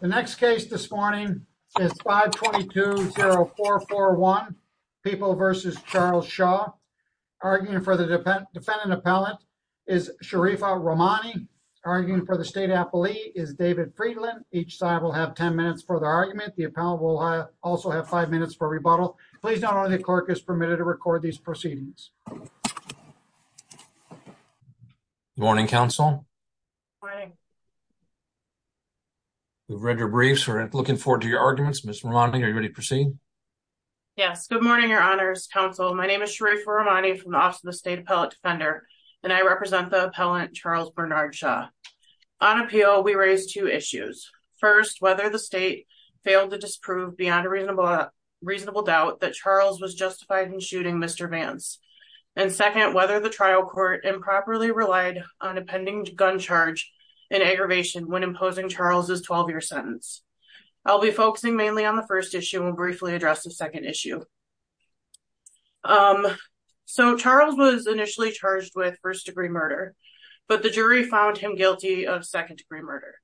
The next case this morning is 522-0441, People v. Charles Shaw. Arguing for the defendant appellant is Sharifa Rahmani. Arguing for the state appellee is David Friedland. Each side will have 10 minutes for their argument. The appellant will also have 5 minutes for rebuttal. Please note only the clerk is permitted to record these proceedings. Morning, counsel. Morning. We've read your briefs. We're looking forward to your arguments. Ms. Rahmani, are you ready to proceed? Yes. Good morning, your honors, counsel. My name is Sharifa Rahmani from the Office of the State Appellate Defender, and I represent the appellant, Charles Bernard Shaw. On appeal, we raised two issues. First, whether the state failed to disprove beyond a reasonable doubt that Charles was justified in shooting Mr. Vance. And second, whether the trial court improperly relied on a pending gun charge in aggravation when imposing Charles' 12-year sentence. I'll be focusing mainly on the first issue and will briefly address the second issue. So Charles was initially charged with first-degree murder, but the jury found him guilty of second-degree murder.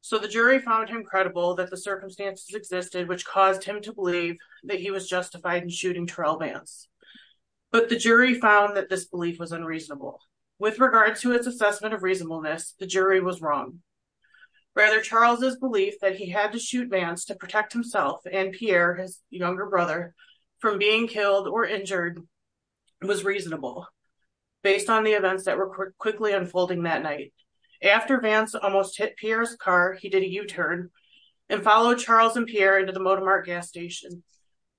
So the jury found him credible that the circumstances existed which caused him to believe that he was justified in shooting Terrell Vance. But the jury found that this belief was unreasonable. With regard to its assessment of reasonableness, the jury was wrong. Rather, Charles' belief that he had to shoot Vance to protect himself and Pierre, his younger brother, from being killed or injured was reasonable, based on the events that were quickly unfolding that night. After Vance almost hit Pierre's car, he did a U-turn and followed Charles and Pierre into the Modemart gas station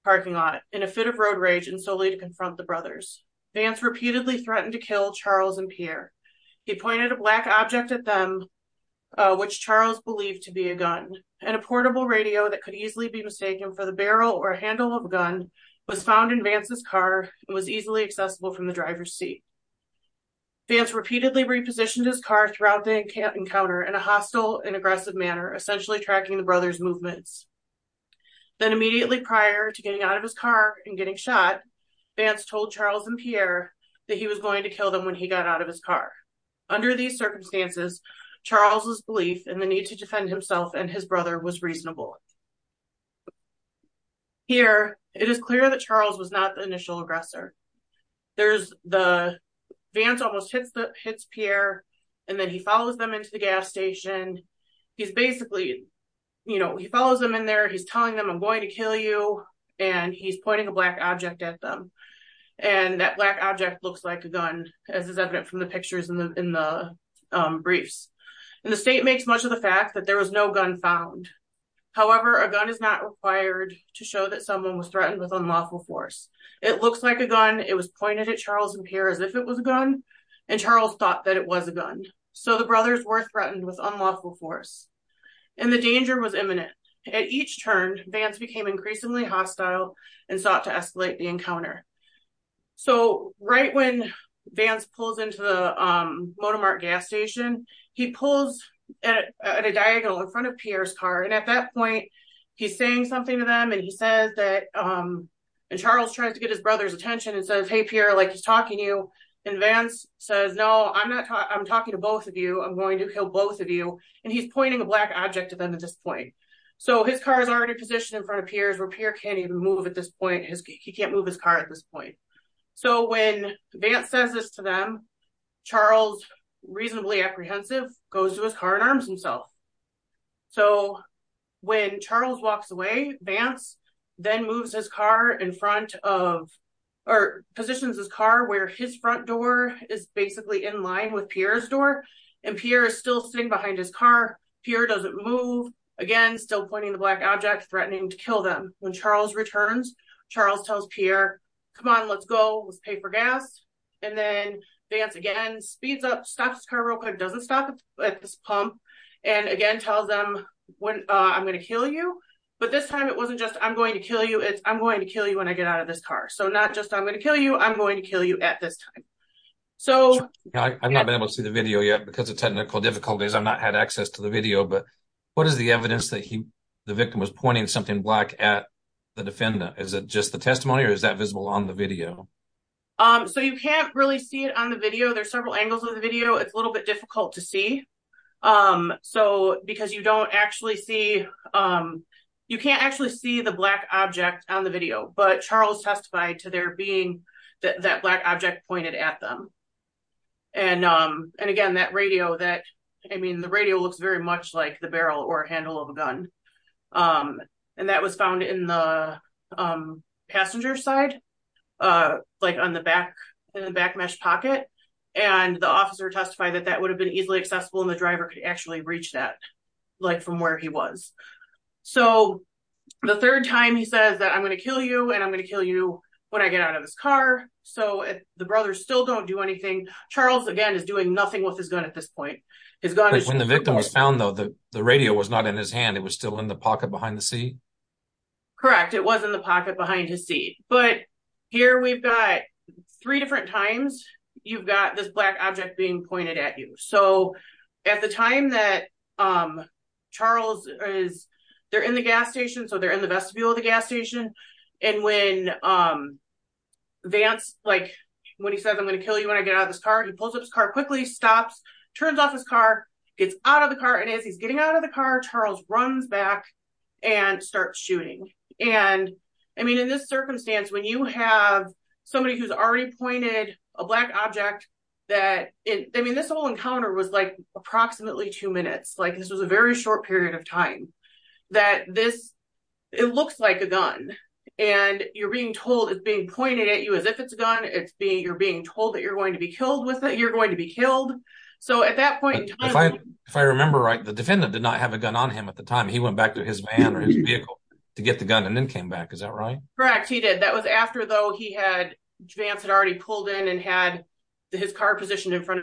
parking lot in a fit of road rage and slowly to confront the brothers. Vance repeatedly threatened to kill Charles and Pierre. He pointed a black object at them, which Charles believed to be a gun, and a portable radio that could easily be mistaken for the barrel or handle of a gun was found in Vance's car and was easily accessible from the driver's seat. Vance repeatedly repositioned his car throughout the encounter in a hostile and aggressive manner, essentially tracking the brothers' movements. Then immediately prior to getting out of his car and getting shot, Vance told Charles and Pierre that he was going to kill them when he got out of his car. Under these circumstances, Charles' belief in the need to defend himself and his brother was reasonable. Here, it is clear that Charles was not the initial aggressor. There's the Vance almost hits Pierre, and then he follows them into the gas station. And he's basically, you know, he follows them in there, he's telling them, I'm going to kill you, and he's pointing a black object at them. And that black object looks like a gun, as is evident from the pictures in the briefs. And the state makes much of the fact that there was no gun found. However, a gun is not required to show that someone was threatened with unlawful force. It looks like a gun, it was pointed at Charles and Pierre as if it was a gun, and Charles thought that it was a gun. And so the brothers were threatened with unlawful force. And the danger was imminent. At each turn, Vance became increasingly hostile and sought to escalate the encounter. So right when Vance pulls into the Monomark gas station, he pulls at a diagonal in front of Pierre's car, and at that point, he's saying something to them, and he says that, and Charles tries to get his brother's attention and says, Hey, Pierre, like he's talking to you. And Vance says, no, I'm talking to both of you. I'm going to kill both of you. And he's pointing a black object at them at this point. So his car is already positioned in front of Pierre's, where Pierre can't even move at this point. He can't move his car at this point. So when Vance says this to them, Charles, reasonably apprehensive, goes to his car and arms himself. So when Charles walks away, Vance then moves his car in front of, or positions his car where his front door is basically in line with Pierre's door, and Pierre is still sitting behind his car. Pierre doesn't move. Again, still pointing the black object, threatening to kill them. When Charles returns, Charles tells Pierre, come on, let's go. Let's pay for gas. And then Vance again speeds up, stops his car real quick, doesn't stop at this pump, and again tells them, I'm going to kill you. But this time it wasn't just I'm going to kill you, it's I'm going to kill you when I get out of this car. So not just I'm going to kill you, I'm going to kill you at this time. I've not been able to see the video yet because of technical difficulties. I've not had access to the video, but what is the evidence that the victim was pointing something black at the defendant? Is it just the testimony or is that visible on the video? So you can't really see it on the video. There's several angles of the video. It's a little bit difficult to see. So because you don't actually see, you can't actually see the black object on the video, but Charles testified to there being that black object pointed at them. And again, that radio that, I mean, the radio looks very much like the barrel or handle of a gun. And that was found in the passenger side, like on the back, in the back mesh pocket. And the officer testified that that would have been easily accessible. And the driver could actually reach that like from where he was. So the third time he says that I'm going to kill you and I'm going to kill you when I get out of his car. So the brothers still don't do anything. Charles again is doing nothing with his gun at this point. When the victim was found though, the radio was not in his hand. It was still in the pocket behind the seat. Correct. It was in the pocket behind his seat, but here we've got three different times. You've got this black object being pointed at you. So at the time that Charles is there in the gas station, so they're in the vestibule of the gas station. And when Vance, like when he says, I'm going to kill you when I get out of this car, he pulls up his car quickly stops, turns off his car, gets out of the car. And as he's getting out of the car, Charles runs back and starts shooting. And I mean, in this circumstance, when you have somebody who's already pointed a black object that, I mean, this whole encounter was like approximately two minutes. Like this was a very short period of time that this, it looks like a gun and you're being told it's being pointed at you as if it's a gun it's being, you're being told that you're going to be killed with it. You're going to be killed. So at that point, If I remember right, the defendant did not have a gun on him at the time. He went back to his van or his vehicle to get the gun and then came back. Is that right? Correct. He did. That was after though, he had, Vance had already pulled in and had his car positioned in front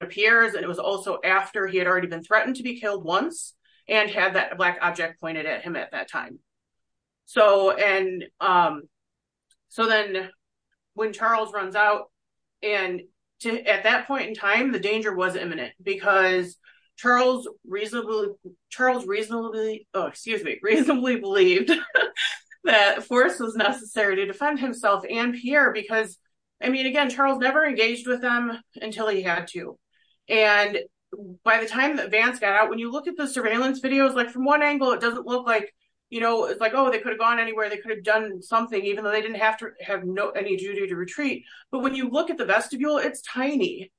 of Pierre's. And it was also after he had already been threatened to be killed once and had that black object pointed at him at that time. So, and, so then when Charles runs out and to, at that point in time, the danger was imminent because Charles reasonably, Charles reasonably, excuse me, reasonably believed that force was necessary to defend himself and Pierre, because I mean, again, Charles never engaged with them until he had to. And by the time that Vance got out, when you look at the surveillance videos, like from one angle, it doesn't look like, you know, it's like, oh, they could have gone anywhere. They could have done something even though they didn't have to have no, any duty to retreat. But when you look at the vestibule, it's tiny.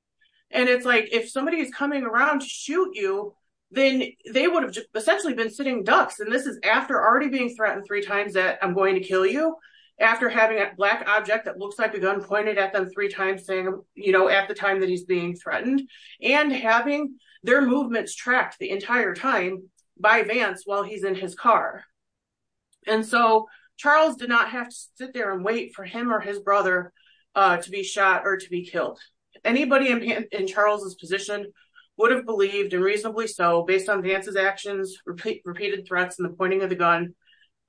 And it's like, if somebody is coming around to shoot you, then they would have essentially been sitting ducks. And this is after already being threatened three times that I'm going to kill you. After having that black object, that looks like a gun pointed at them three times saying, you know, at the time that he's being threatened and having their movements tracked the entire time by Vance while he's in his car. And so Charles did not have to sit there and wait for him or his brother to be shot or to be killed. Anybody in Charles's position would have believed and reasonably so based on Vance's actions, repeated threats and the pointing of the gun,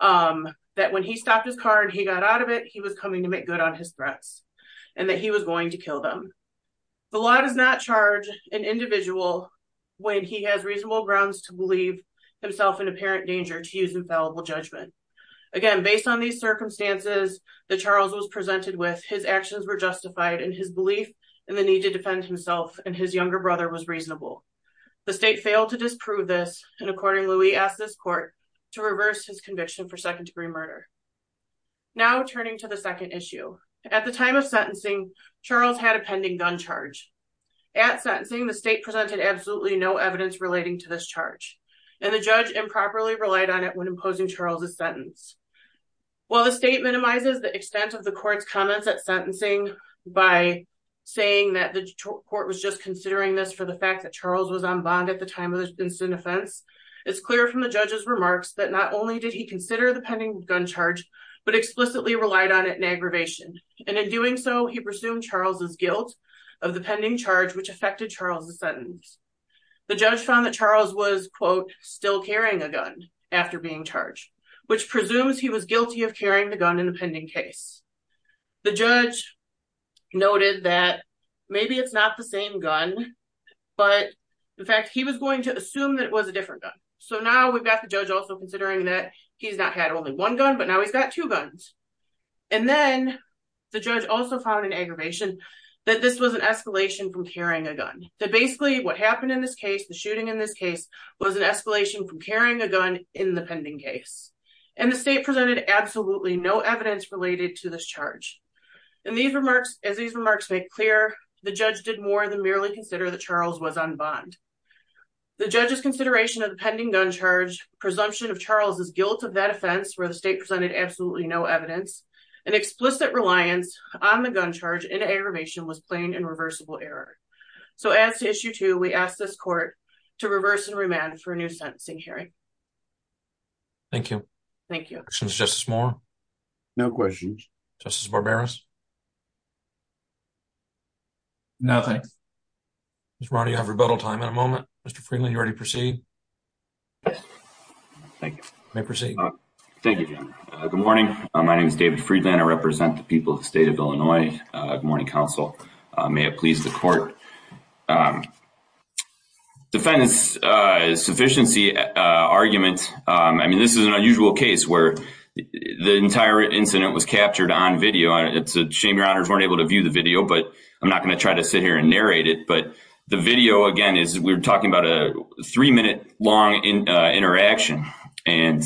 that when he stopped his car and he got out of it, he was coming to make good on his threats and that he was going to kill them. The law does not charge an individual when he has reasonable grounds to believe himself in apparent danger to use infallible judgment. Again, based on these circumstances that Charles was presented with, his actions were justified and his belief in the need to defend himself and his younger brother was reasonable. The state failed to disprove this. And according Louis asked this court to reverse his conviction for second degree murder. Now turning to the second issue at the time of sentencing, Charles had a pending gun charge. At sentencing, the state presented absolutely no evidence relating to this charge and the judge improperly relied on it when imposing Charles's sentence. While the state minimizes the extent of the court's comments at sentencing by saying that the court was just considering this for the fact that Charles was on bond at the time of the incident offense, it's clear from the judge's remarks that not only did he consider the pending gun charge, but explicitly relied on it in aggravation. And in doing so, he presumed Charles's guilt of the pending charge, which affected Charles's sentence. The judge found that Charles was quote, still carrying a gun after being charged, which presumes he was guilty of carrying the gun in the pending case. The judge noted that maybe it's not the same gun, but the fact he was going to assume that it was a different gun. So now we've got the judge also considering that he's not had only one gun, but now he's got two guns. And then the judge also found an aggravation that this was an escalation from carrying a gun. That basically what happened in this case, the shooting in this case was an escalation from carrying a gun in the pending case. And the state presented absolutely no evidence related to this charge. And these remarks, as these remarks make clear, the judge did more than merely consider that Charles was on bond. The judge's consideration of the pending gun charge, presumption of Charles's guilt of that offense where the state presented absolutely no evidence and explicit reliance on the gun charge in aggravation was plain and reversible error. So as to issue two, we ask this court to reverse and remand for a new sentencing hearing. Thank you. Thank you. Justice Moore. No questions. Justice Barberos. Nothing. Mr. Brown, do you have rebuttal time in a moment? Mr. Freeland, you ready to proceed? Thank you. May I proceed? Thank you, Jim. Good morning. My name is David Freeland. I represent the people of the state of Illinois. Good morning, counsel. May it please the court. Defendant's sufficiency argument. I mean, this is an unusual case where the entire incident was captured on video. It's a shame your honors weren't able to view the video, but I'm not going to try to sit here and narrate it. But the video again is we were talking about a three minute long interaction and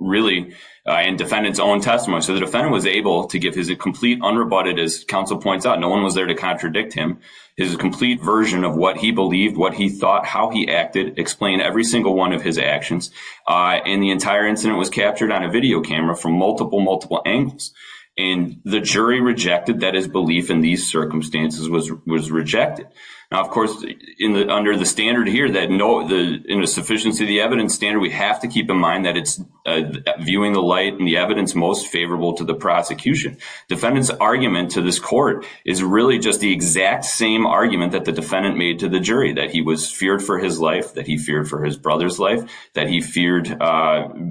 really in defendant's own testimony. So the defendant was able to give his a complete unrebutted as counsel points out. No one was there to contradict him. His complete version of what he believed, what he thought, how he acted, explained every single one of his actions. And the entire incident was captured on a video camera from multiple, multiple angles. And the jury rejected that his belief in these circumstances was rejected. Now, of course, in the, under the standard here, that no, the, in a sufficiency of the evidence standard, we have to keep in mind that it's viewing the light and the evidence most favorable to the prosecution. Defendant's argument to this court is really just the exact same argument that the defendant made to the jury, that he was feared for his life, that he feared for his brother's life, that he feared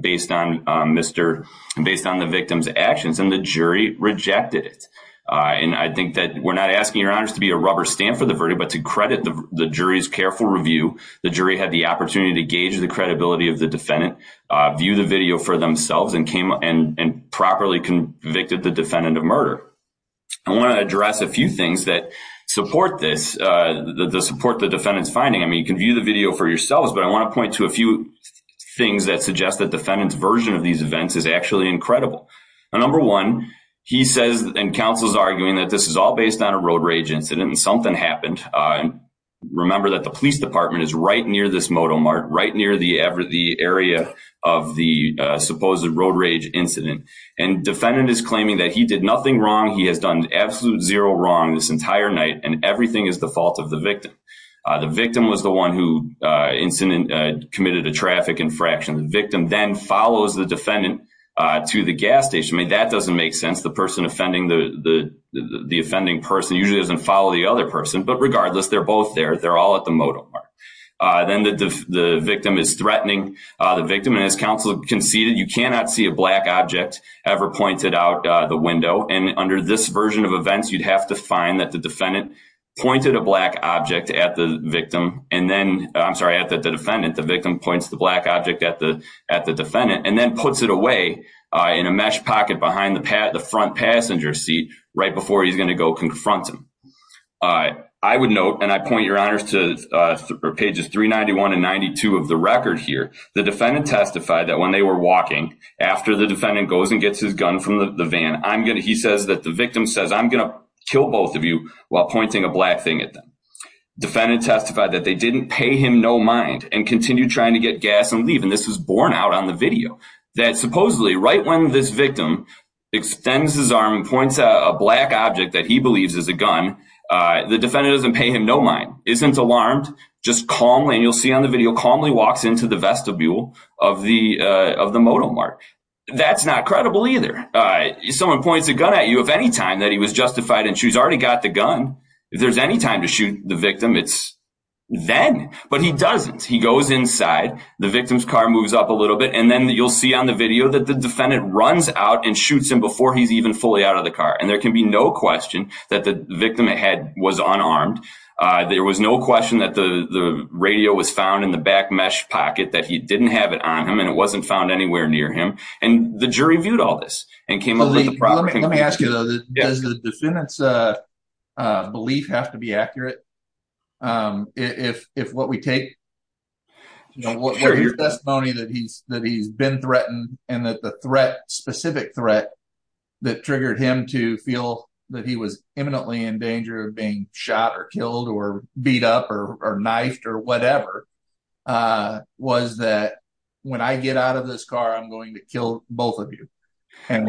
based on Mr. and based on the victim's actions and the jury rejected it. And I think that we're not asking your honors to be a rubber stamp for the verdict, but to credit the jury's careful review, the jury had the opportunity to gauge the credibility of the defendant, view the video for themselves and came up and properly convicted the defendant of murder. I want to address a few things that support this, the support the defendant's finding. I mean, you can view the video for yourselves, but I want to point to a few things that suggest that defendant's version of these events is actually incredible. Number one, he says and counsel's arguing that this is all based on a road rage incident and something happened. Remember that the police department is right near this moto Mart, right near the Everett, the area of the supposed road rage incident and defendant is claiming that he did nothing wrong. He has done absolute zero wrong this entire night and everything is the fault of the victim. The victim was the one who incident committed a traffic infraction. The victim then follows the defendant to the gas station. I mean, that doesn't make sense. The person offending the, the, the, the offending person usually doesn't follow the other person, but regardless, they're both there. They're all at the moto mark. Then the, the victim is threatening the victim. And as counsel conceded, you cannot see a black object ever pointed out the window. And under this version of events, you'd have to find that the defendant pointed a black object at the victim. And then I'm sorry, at the defendant, the victim points the black object at the, at the defendant and then puts it away in a mesh pocket behind the pad, the front passenger seat, right before he's going to go confront him. I would note, and I point your honors to pages 391 and 92 of the record here. The defendant testified that when they were walking after the defendant goes and gets his gun from the van, I'm going to, he says that the victim says I'm going to kill both of you while pointing a black thing at them. Defendant testified that they didn't pay him no mind and continue trying to get gas and leave. And this was born out on the video that supposedly right when this victim extends his arm and points out a black object that he believes is a gun, the defendant doesn't pay him. No mind. Isn't alarmed. Just calmly. And you'll see on the video, calmly walks into the vestibule of the, of the modal mark. That's not credible either. Someone points a gun at you. If any time that he was justified and she's already got the gun, if there's any time to shoot the victim, it's then, but he doesn't, he goes inside the victim's car, moves up a little bit. And then you'll see on the video that the defendant runs out and shoots him before he's even fully out of the car. And there can be no question that the victim had was unarmed. There was no question that the, the radio was found in the back mesh pocket that he didn't have it on him. And it wasn't found anywhere near him. And the jury viewed all this and came up with the problem. Let me ask you though, does the defendant's belief have to be accurate? If, if what we take, you know, what are your testimony that he's, that he's been threatened and that the threat specific threat that triggered him to feel that he was imminently in danger of being shot or killed or beat up or, or knifed or whatever was that when I get out of this car, I'm going to kill both of you. And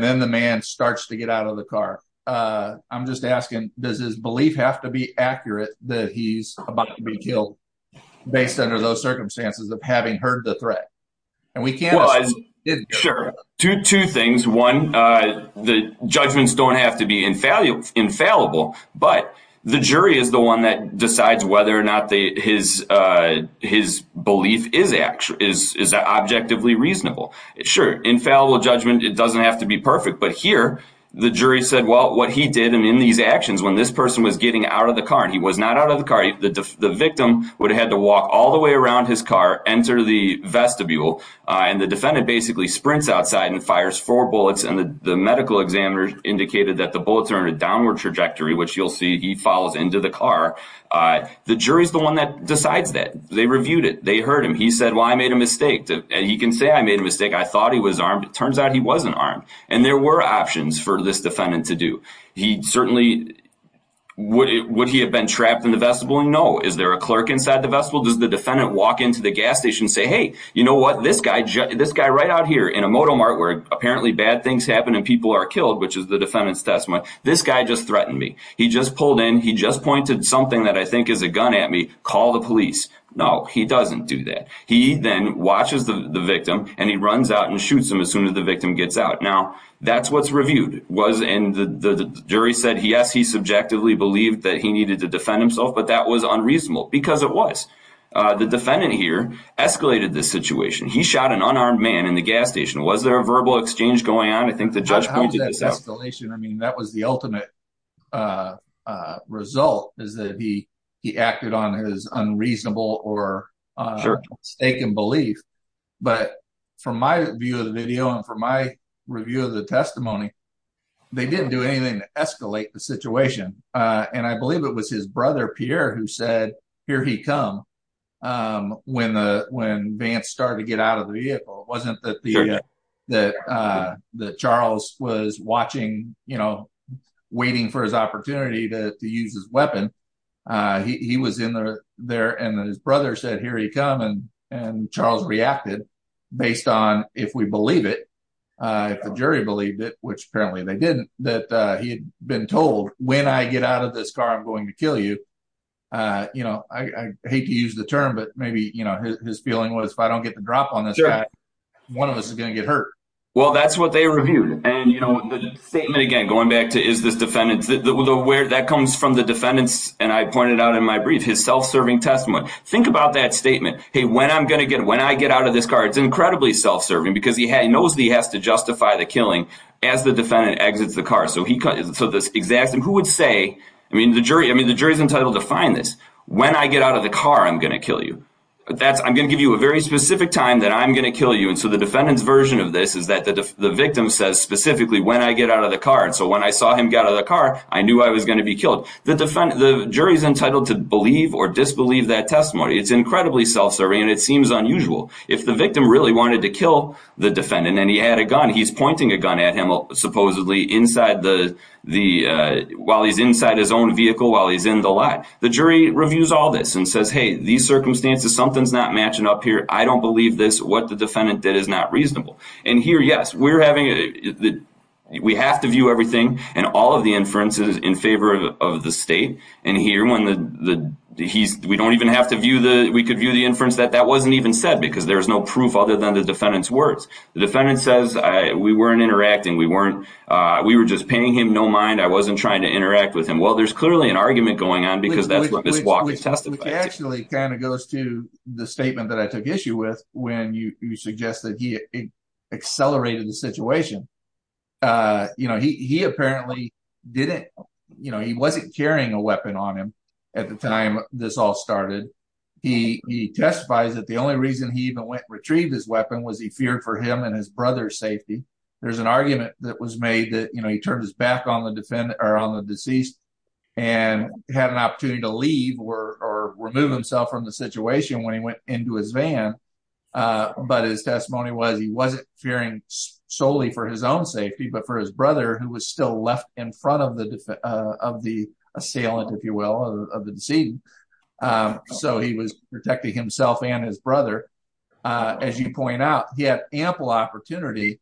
then the man starts to get out of the car. I'm just asking, does his belief have to be accurate that he's about to be killed based under those circumstances of having heard the threat? And we can't. Sure. Two, two things. One, the judgments don't have to be infallible, infallible, but the jury is the one that decides whether or not they, his, his belief is actually is, is that objectively reasonable? It's sure. Infallible judgment. It doesn't have to be perfect, but here the jury said, well, what he did. And in these actions, when this person was getting out of the car and he was not out of the car, the victim would have had to walk all the way around his car, enter the vestibule. And the defendant basically sprints outside and fires four bullets. And the, the medical examiner indicated that the bullets are in a downward trajectory, which you'll see. He follows into the car. The jury is the one that decides that they reviewed it. They heard him. He said, well, I made a mistake and he can say, I made a mistake. I thought he was armed. It turns out he wasn't armed. And there were options for this defendant to do. He certainly would, would he have been trapped in the vestibule? No. Is there a clerk inside the vestibule? Does the defendant walk into the gas station and say, Hey, you know what? This guy, this guy right out here in a Moto Mart where apparently bad things happen and people are killed, which is the defendant's testimony. This guy just threatened me. He just pulled in. He just pointed something that I think is a gun at me. Call the police. No, he doesn't do that. He then watches the victim and he runs out and shoots him as soon as the victim gets out. Now that's, what's reviewed was in the jury said, yes, he subjectively believed that he needed to defend himself, but that was unreasonable because it was, uh, the defendant here escalated this situation. He shot an unarmed man in the gas station. Was there a verbal exchange going on? I think the judge, I mean, that was the ultimate, uh, uh, result is that he, he acted on his unreasonable or, uh, stake in belief. But from my view of the video and from my review of the testimony, they didn't do anything to escalate the situation. Uh, and I believe it was his brother, Pierre, who said, uh, here he come. Um, when, uh, when Vance started to get out of the vehicle, it wasn't that the, uh, that, uh, that Charles was watching, you know, waiting for his opportunity to use his weapon. Uh, he was in there and his brother said, here he come. And, and Charles reacted based on if we believe it, uh, if the jury believed it, which apparently they didn't, that, uh, he had been told when I get out of this car, I'm going to kill you. Uh, you know, I, I hate to use the term, but maybe, you know, his feeling was if I don't get the drop on this guy, one of us is going to get hurt. Well, that's what they reviewed. And, you know, the statement again, going back to, is this defendant aware that comes from the defendants? And I pointed out in my brief, his self-serving testimony. Think about that statement. Hey, when I'm going to get, when I get out of this car, it's incredibly self-serving because he had, he knows that he has to justify the killing as the defendant exits the car. So he, so this exact, and who would say, I mean, the jury, I mean, the jury's entitled to find this. When I get out of the car, I'm going to kill you. That's, I'm going to give you a very specific time that I'm going to kill you. And so the defendant's version of this is that the, the victim says specifically when I get out of the car. And so when I saw him get out of the car, I knew I was going to be killed. The defense, the jury's entitled to believe or disbelieve that testimony. It's incredibly self-serving and it seems unusual. If the victim really wanted to kill the defendant and he had a gun, he's pointing a gun at him, supposedly inside the, the, uh, while he's inside his own vehicle, while he's in the lot, the jury reviews all this and says, Hey, these circumstances, something's not matching up here. I don't believe this. What the defendant did is not reasonable. And here, yes, we're having, we have to view everything and all of the inferences in favor of the state. And here when the, the he's, we don't even have to view the, we could view the inference that that wasn't even said because there's no proof other than the defendant's words. The defendant says, I, we weren't interacting. We weren't, uh, we were just paying him. No mind. I wasn't trying to interact with him. Well, there's clearly an argument going on because that's what this walk test. It actually kind of goes to the statement that I took issue with when you, you suggest that he accelerated the situation. Uh, you know, he, he apparently didn't, you know, he wasn't carrying a weapon on him at the time this all started. He, he testifies that the only reason he even went and retrieved his weapon was he feared for him and his brother's safety. There's an argument that was made that, you know, he turned his back on the defendant or on the deceased and had an opportunity to leave or, or remove himself from the situation when he went into his van. Uh, but his testimony was, he wasn't fearing solely for his own safety, but for his brother who was still left in front of the, uh, of the assailant, if you will, of the, of the deceit. Um, so he was protecting himself and his brother. Uh, as you point out, he had ample opportunity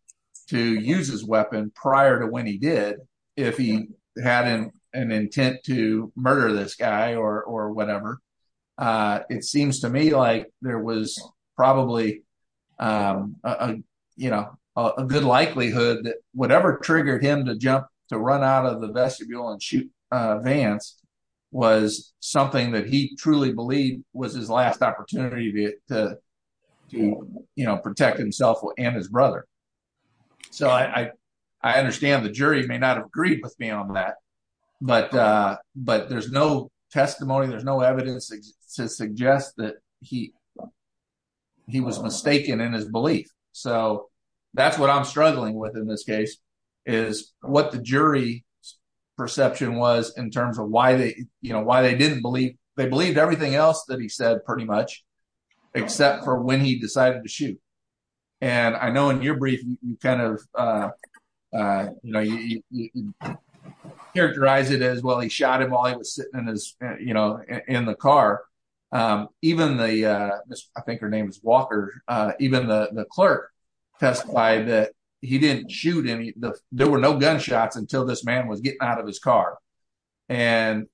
to use his weapon prior to when he did, if he had an intent to murder this guy or, or whatever. Uh, it seems to me like there was probably, um, uh, you know, a good likelihood that whatever triggered him to jump, to run out of the vestibule and shoot, uh, Vance was something that he truly believed was his last opportunity to, to, to, you know, protect himself and his brother. So I, I, I understand the jury may not have agreed with me on that, but, uh, but there's no testimony. There's no evidence to suggest that he, he was mistaken in his belief. So that's what I'm struggling with in this case is what the jury perception was in terms of why they, you know, why they didn't believe they believed everything else that he said pretty much, except for when he decided to shoot. And I know in your brief, you kind of, uh, uh, you know, you characterize it as, well, he shot him while he was sitting in his, you know, in the car. Um, even the, uh, I think her name is Walker. Uh, even the, the clerk testified that he didn't shoot any, there were no gunshots until this man was getting out of his car. And,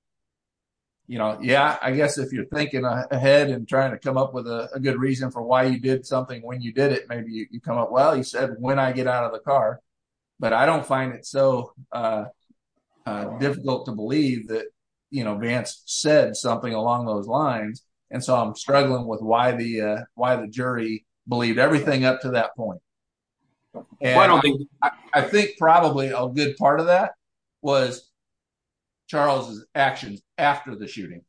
you know, yeah, I guess if you're thinking ahead and trying to come up with a good reason for why you did something, when you did it, maybe you come up. Well, he said, when I get out of the car, but I don't find it so, uh, uh, difficult to believe that, you know, Vance said something along those lines. And so I'm struggling with why the, uh, why the jury believed everything up to that point. I think probably a good part of that. Was Charles's actions after the shooting.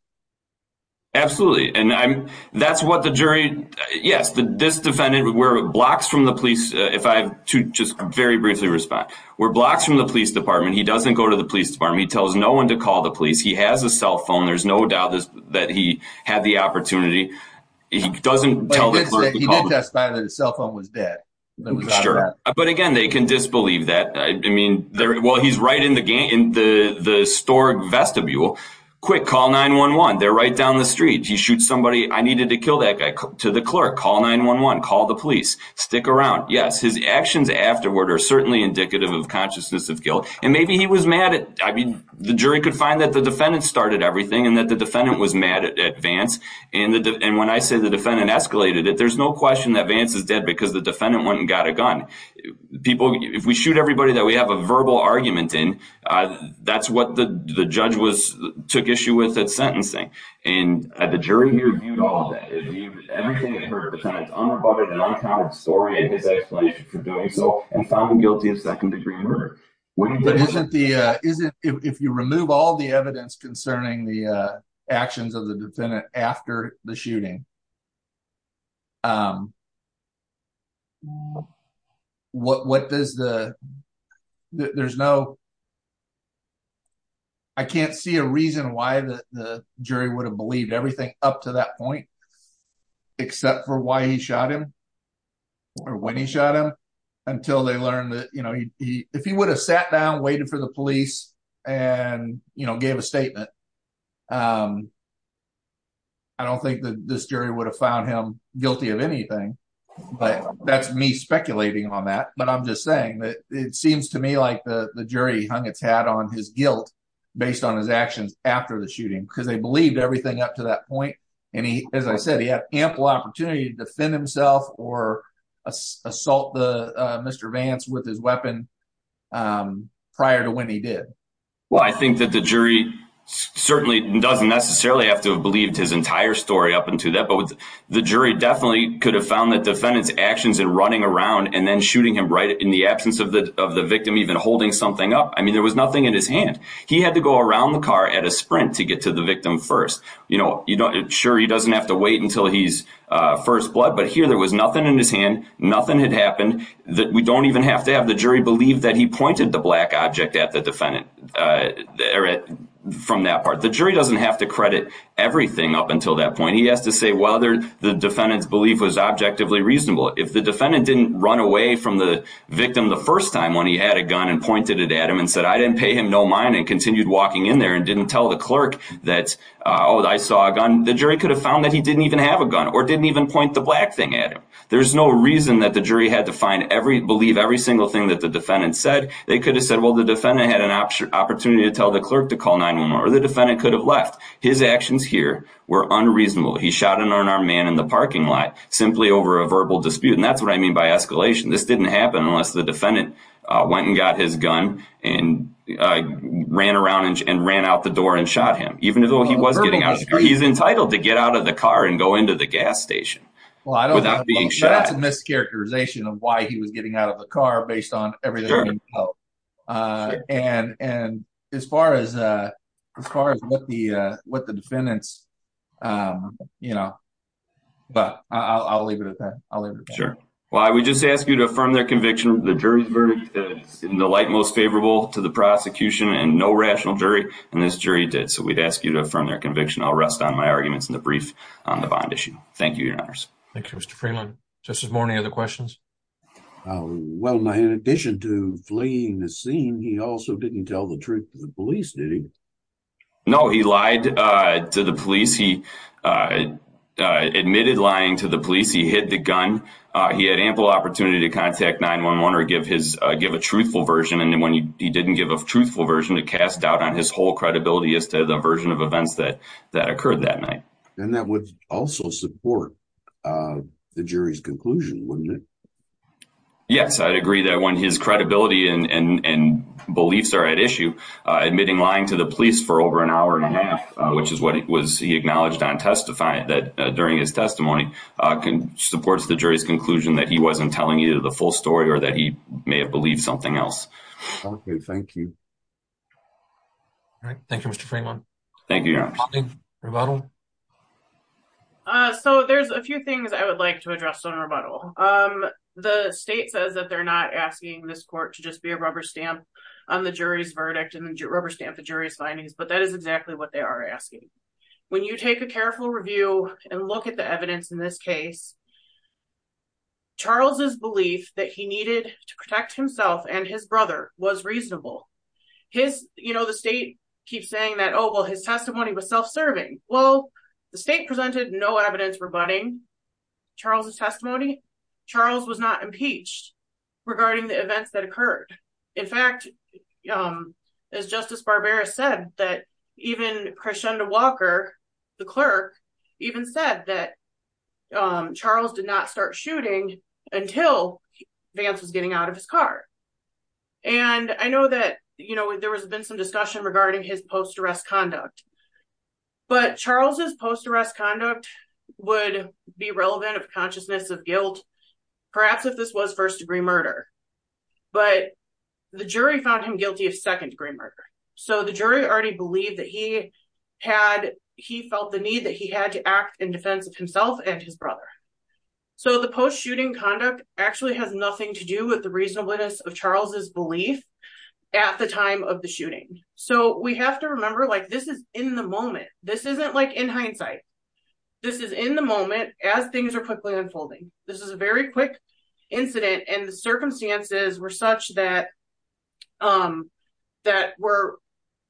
Absolutely. And I'm, that's what the jury, yes, the, this defendant where blocks from the police. Uh, if I have to just very briefly respond, we're blocks from the police department. He doesn't go to the police department. He tells no one to call the police. He has a cell phone. There's no doubt that he had the opportunity. He doesn't tell. He did testify that his cell phone was dead. Sure. But again, they can disbelieve that. I mean, there, well, he's right in the game, in the, in the, the historic vestibule quick call nine one, one, they're right down the street. He shoots somebody. I needed to kill that guy to the clerk, call nine one, one, call the police stick around. Yes. His actions afterward are certainly indicative of consciousness of guilt. And maybe he was mad at, I mean, the jury could find that the defendant started everything and that the defendant was mad at Vance. And the, and when I say the defendant escalated it, there's no question that Vance is dead because the defendant went and got a gun people. If we shoot everybody that we have a verbal argument in, uh, that's what the judge was, took issue with at sentencing. And the jury here viewed all of that. Everything that hurt the tenants, unrebutted and uncounted story and his explanation for doing so, and found him guilty of second degree murder. But isn't the, is it, if you remove all the evidence concerning the, uh, actions of the defendant after the shooting, um, what, what does the, there's no, I can't see a reason why the, the jury would have believed everything up to that point, except for why he shot him or when he shot him until they learned that, you know, if he would have sat down and waited for the police and, you know, gave a statement, um, I don't think that this jury would have found him guilty of anything, but that's me speculating on that. But I'm just saying that it seems to me like the, the jury hung its hat on his guilt based on his actions after the shooting, because they believed everything up to that point. And he, as I said, he had ample opportunity to defend himself or assault the, uh, Mr. Vance with his weapon, um, prior to when he did. Well, I think that the jury certainly doesn't necessarily have to have believed his entire story up into that, but with the jury definitely could have found that defendants actions and running around and then shooting him right in the absence of the, of the victim, even holding something up. I mean, there was nothing in his hand. He had to go around the car at a sprint to get to the victim. First, you know, you don't, sure. He doesn't have to wait until he's, uh, first blood, but here there was nothing in his hand. Nothing had happened that we don't even have to have. The jury believed that he pointed the black object at the defendant, uh, from that part. The jury doesn't have to credit everything up until that point. He has to say, well, there, the defendant's belief was objectively reasonable. If the defendant didn't run away from the victim, the first time when he had a gun and pointed it at him and said, I didn't pay him no mind and continued walking in there and didn't tell the clerk that, uh, Oh, I saw a gun. The jury could have found that he didn't even have a gun or didn't even point the black thing at him. There's no reason that the jury had to find every, believe every single thing that the defendant said. They could have said, well, the defendant had an option opportunity to tell the clerk to call 911 or the defendant could have left. His actions here were unreasonable. He shot an unarmed man in the parking lot, simply over a verbal dispute. And that's what I mean by escalation. This didn't happen unless the defendant, uh, went and got his gun and, uh, ran around and ran out the door and shot him, even though he was getting out. He's entitled to get out of the car and go into the gas station. Well, that's a mischaracterization of why he was getting out of the car based on everything. Uh, and, and as far as, uh, as far as what the, uh, what the defendants, um, you know, but I'll, I'll leave it at that. I'll leave it. Sure. Well, I would just ask you to affirm their conviction, the jury's verdict in the light, most favorable to the prosecution and no rational jury. And this jury did. So we'd ask you to affirm their conviction. I'll rest on my arguments in the brief on the bond issue. Thank you. Your honors. Thank you, Mr. Freeland just as morning. Other questions. Uh, well, in addition to fleeing the scene, he also didn't tell the truth to the police. Did he? No, he lied, uh, to the police. He, uh, uh, admitted lying to the police. He hid the gun. Uh, he had ample opportunity to contact nine one one, or give his, uh, give a truthful version. And then when he, he didn't give a truthful version to cast doubt on his whole credibility as to the version of events that, that occurred that night. And that would also support, uh, the jury's conclusion. Wouldn't it? Yes. I agree that when his credibility and, and, and beliefs are at issue, uh, admitting lying to the police for over an hour and a half, which is what it was, he acknowledged on testifying that, uh, during his testimony, uh, can support the jury's conclusion that he wasn't telling you the full story or that he may have believed something else. Okay. Thank you. All right. Thank you, Mr. Freeman. Thank you. Uh, so there's a few things I would like to address on rebuttal. Um, the state says that they're not asking this court to just be a Um, the state says that they're not asking this court to just be a rubber stamp on the jury's verdict and the rubber stamp, the jury's findings, but that is exactly what it is. Um, and that's exactly what they are asking. When you take a careful review and look at the evidence in this case, Charles's belief that he needed to protect himself and his brother was reasonable. His, you know, the state keeps saying that, Oh, well, his testimony was self-serving. Well, the state presented no evidence, rebutting Charles's testimony. Charles was not impeached regarding the events that occurred. In fact, um, as justice Barbera said, that even, Um, when Christian Walker, the clerk even said that. Um, Charles did not start shooting until Vance was getting out of his car. And I know that, you know, there was been some discussion regarding his post arrest conduct. But Charles is post arrest conduct. Would be relevant of consciousness of guilt. Perhaps if this was first degree murder. But. The jury found him guilty of second degree murder. So the jury already believed that he. Had he felt the need that he had to act in defense of himself and his brother. So the post shooting conduct actually has nothing to do with the reasonableness of Charles's belief. At the time of the shooting. So we have to remember, like this is in the moment. This isn't like in hindsight. This is in the moment as things are quickly unfolding. This is a very quick. Incident and the circumstances were such that. Um, that were,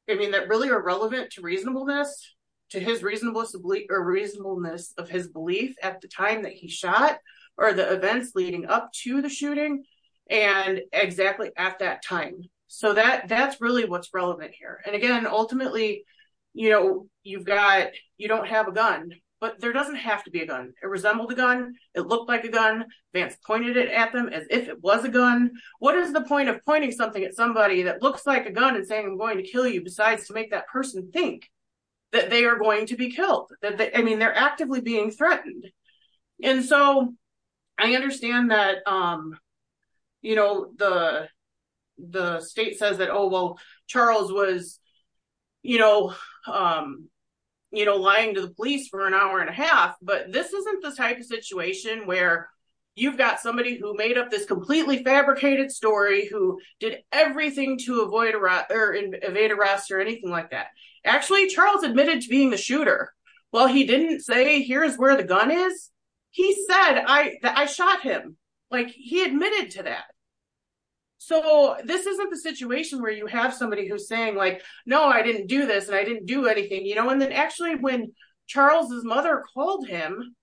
I mean, that really are relevant to reasonableness. To his reasonableness of reasonableness of his belief at the time that he shot or the events leading up to the shooting. And exactly at that time. So that that's really what's relevant here. And again, ultimately. You know, you've got, you don't have a gun, but there doesn't have to be a gun. It resembled a gun. It looked like a gun Vance pointed it at them as if it was a gun. And what is the point of pointing something at somebody that looks like a gun and saying, I'm going to kill you. Besides to make that person think. That they are going to be killed. I mean, they're actively being threatened. And so I understand that, um, you know, the. The state says that, oh, well, Charles was. You know, um, you know, lying to the police for an hour and a half, but this isn't the type of situation where you've got somebody who made up this completely fabricated story, who did everything to avoid or evade arrest or anything like that. Actually, Charles admitted to being the shooter. Well, he didn't say, here's where the gun is. He said, I, I shot him. Like he admitted to that. So this isn't the situation where you have somebody who's saying like, no, I didn't do this and I didn't do anything, you know, and then actually when Charles's mother called him.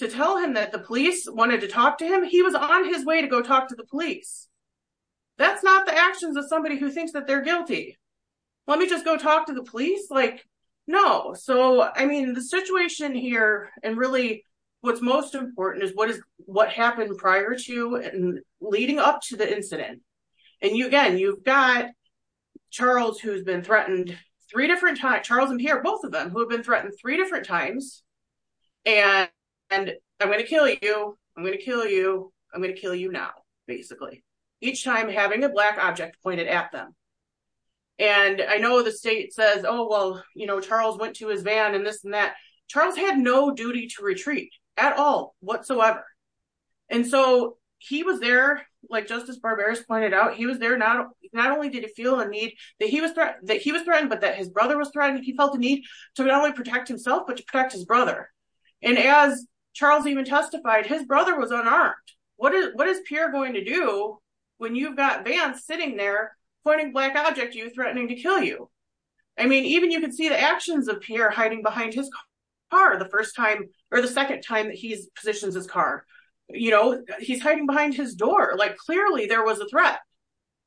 To tell him that the police wanted to talk to him. He was on his way to go talk to the police. That's not the actions of somebody who thinks that they're guilty. Let me just go talk to the police. Like, no. So, I mean, the situation here and really what's most important is what is, what happened prior to and leading up to the incident. And you, again, you've got Charles, who's been threatened three different times, Charles and Pierre, both of them who have been threatened three different times. And I'm going to kill you. I'm going to kill you. I'm going to kill you now, basically. Each time having a black object pointed at them. And I know the state says, oh, well, you know, Charles went to his van and this and that Charles had no duty to retreat at all whatsoever. And so he was there like justice barbarous pointed out. He was there. Not, not only did he feel a need that he was that he was threatened, but that his brother was threatened. And he felt the need to not only protect himself, but to protect his brother. And as Charles even testified, his brother was unarmed. What is, what is Pierre going to do when you've got vans sitting there pointing black object, you threatening to kill you? I mean, even you can see the actions of Pierre hiding behind his car the first time or the second time that he's positioned his car, you know, he's hiding behind his door. Like clearly there was a threat.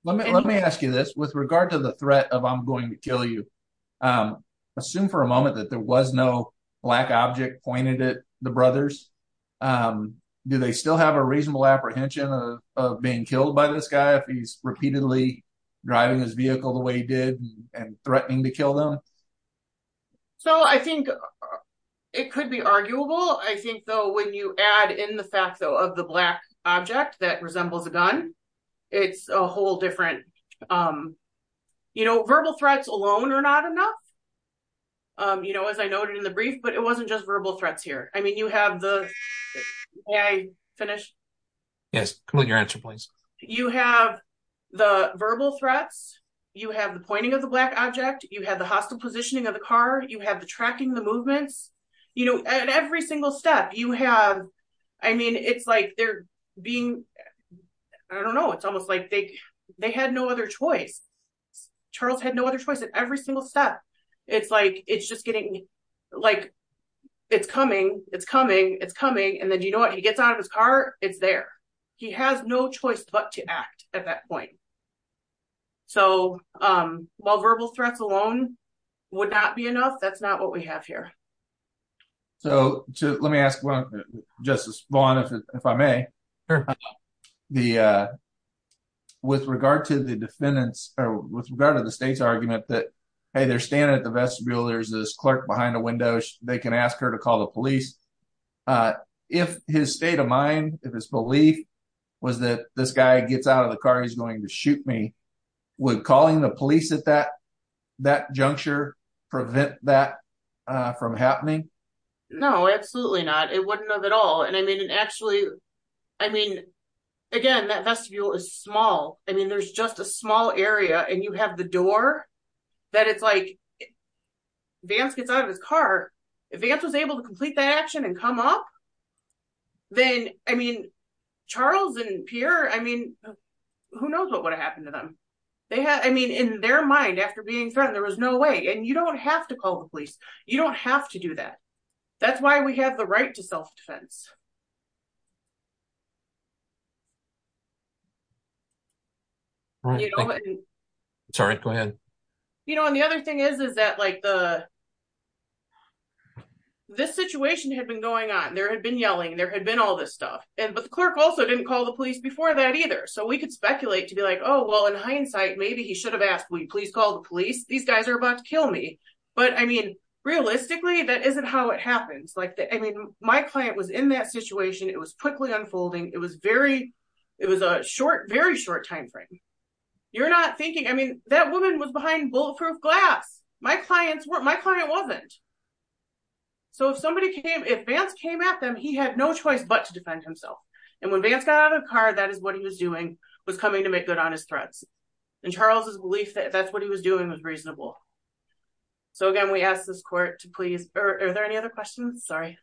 Let me, let me ask you this with regard to the threat of, I'm going to kill you. Assume for a moment that there was no black object pointed at the brothers. Do they still have a reasonable apprehension of being killed by this guy? If he's repeatedly driving his vehicle the way he did and threatening to kill them. So I think it could be arguable. I think though, when you add in the fact though of the black object that resembles a gun, it's a whole different, you know, verbal threats alone are not enough. You know, as I noted in the brief, but it wasn't just verbal threats here. I mean, you have the finish. Yes. Complete your answer, please. You have the verbal threats. You have the pointing of the black object. You have the hostile positioning of the car. You have the tracking the movements, you know, and every single step you have. I mean, it's like they're being, I don't know. It's almost like they, they had no other choice. Charles had no other choice at every single step. It's like, it's just getting like, it's coming, it's coming, it's coming. And then, you know what? He gets out of his car. It's there. He has no choice but to act at that point. So while verbal threats alone would not be enough, that's not what we have here. So let me ask justice Vaughn, if I may. With regard to the defendant's, or with regard to the state's argument that, hey, they're standing at the vestibule. There's this clerk behind the windows. They can ask her to call the police. If his state of mind, if his belief was that this guy gets out of the car, he's going to shoot me. Would calling the police at that, that juncture prevent that from happening? No, absolutely not. It wouldn't have at all. And I mean, actually, I mean, again, that vestibule is small. I mean, there's just a small area and you have the door that it's like Vance gets out of his car. If Vance was able to complete that action and come up, then, I mean, Charles and Pierre, I mean, who knows what would have happened to them? They had, I mean, in their mind, after being threatened, there was no way and you don't have to call the police. You don't have to do that. That's why we have the right to self-defense. Sorry, go ahead. You know, and the other thing is, is that like the, this situation had been going on and there had been yelling and there had been all this stuff. And, but the clerk also didn't call the police before that either. So we could speculate to be like, oh, well, in hindsight, maybe he should have asked, will you please call the police? These guys are about to kill me. But I mean, realistically, I was in that car. I was in that car. I was in that situation. It was quickly unfolding. It was very, it was a short, very short timeframe. You're not thinking, I mean, that woman was behind bulletproof glass. My clients weren't, my client wasn't. So if somebody came, if Vance came at them, he had no choice, but to defend himself. And when Vance got out of the car, that is what he was doing, was coming to make good on his threats. And Charles's belief that that's what he was doing was reasonable. So again, we asked this court to please, or are there any other questions? Sorry.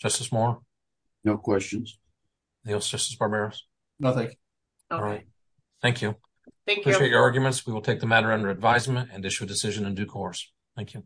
Justice Moore. No questions. Justice Barberos. Nothing. All right. Thank you. Thank you for your arguments. We will take the matter under advisement and issue a decision in due course. Thank you.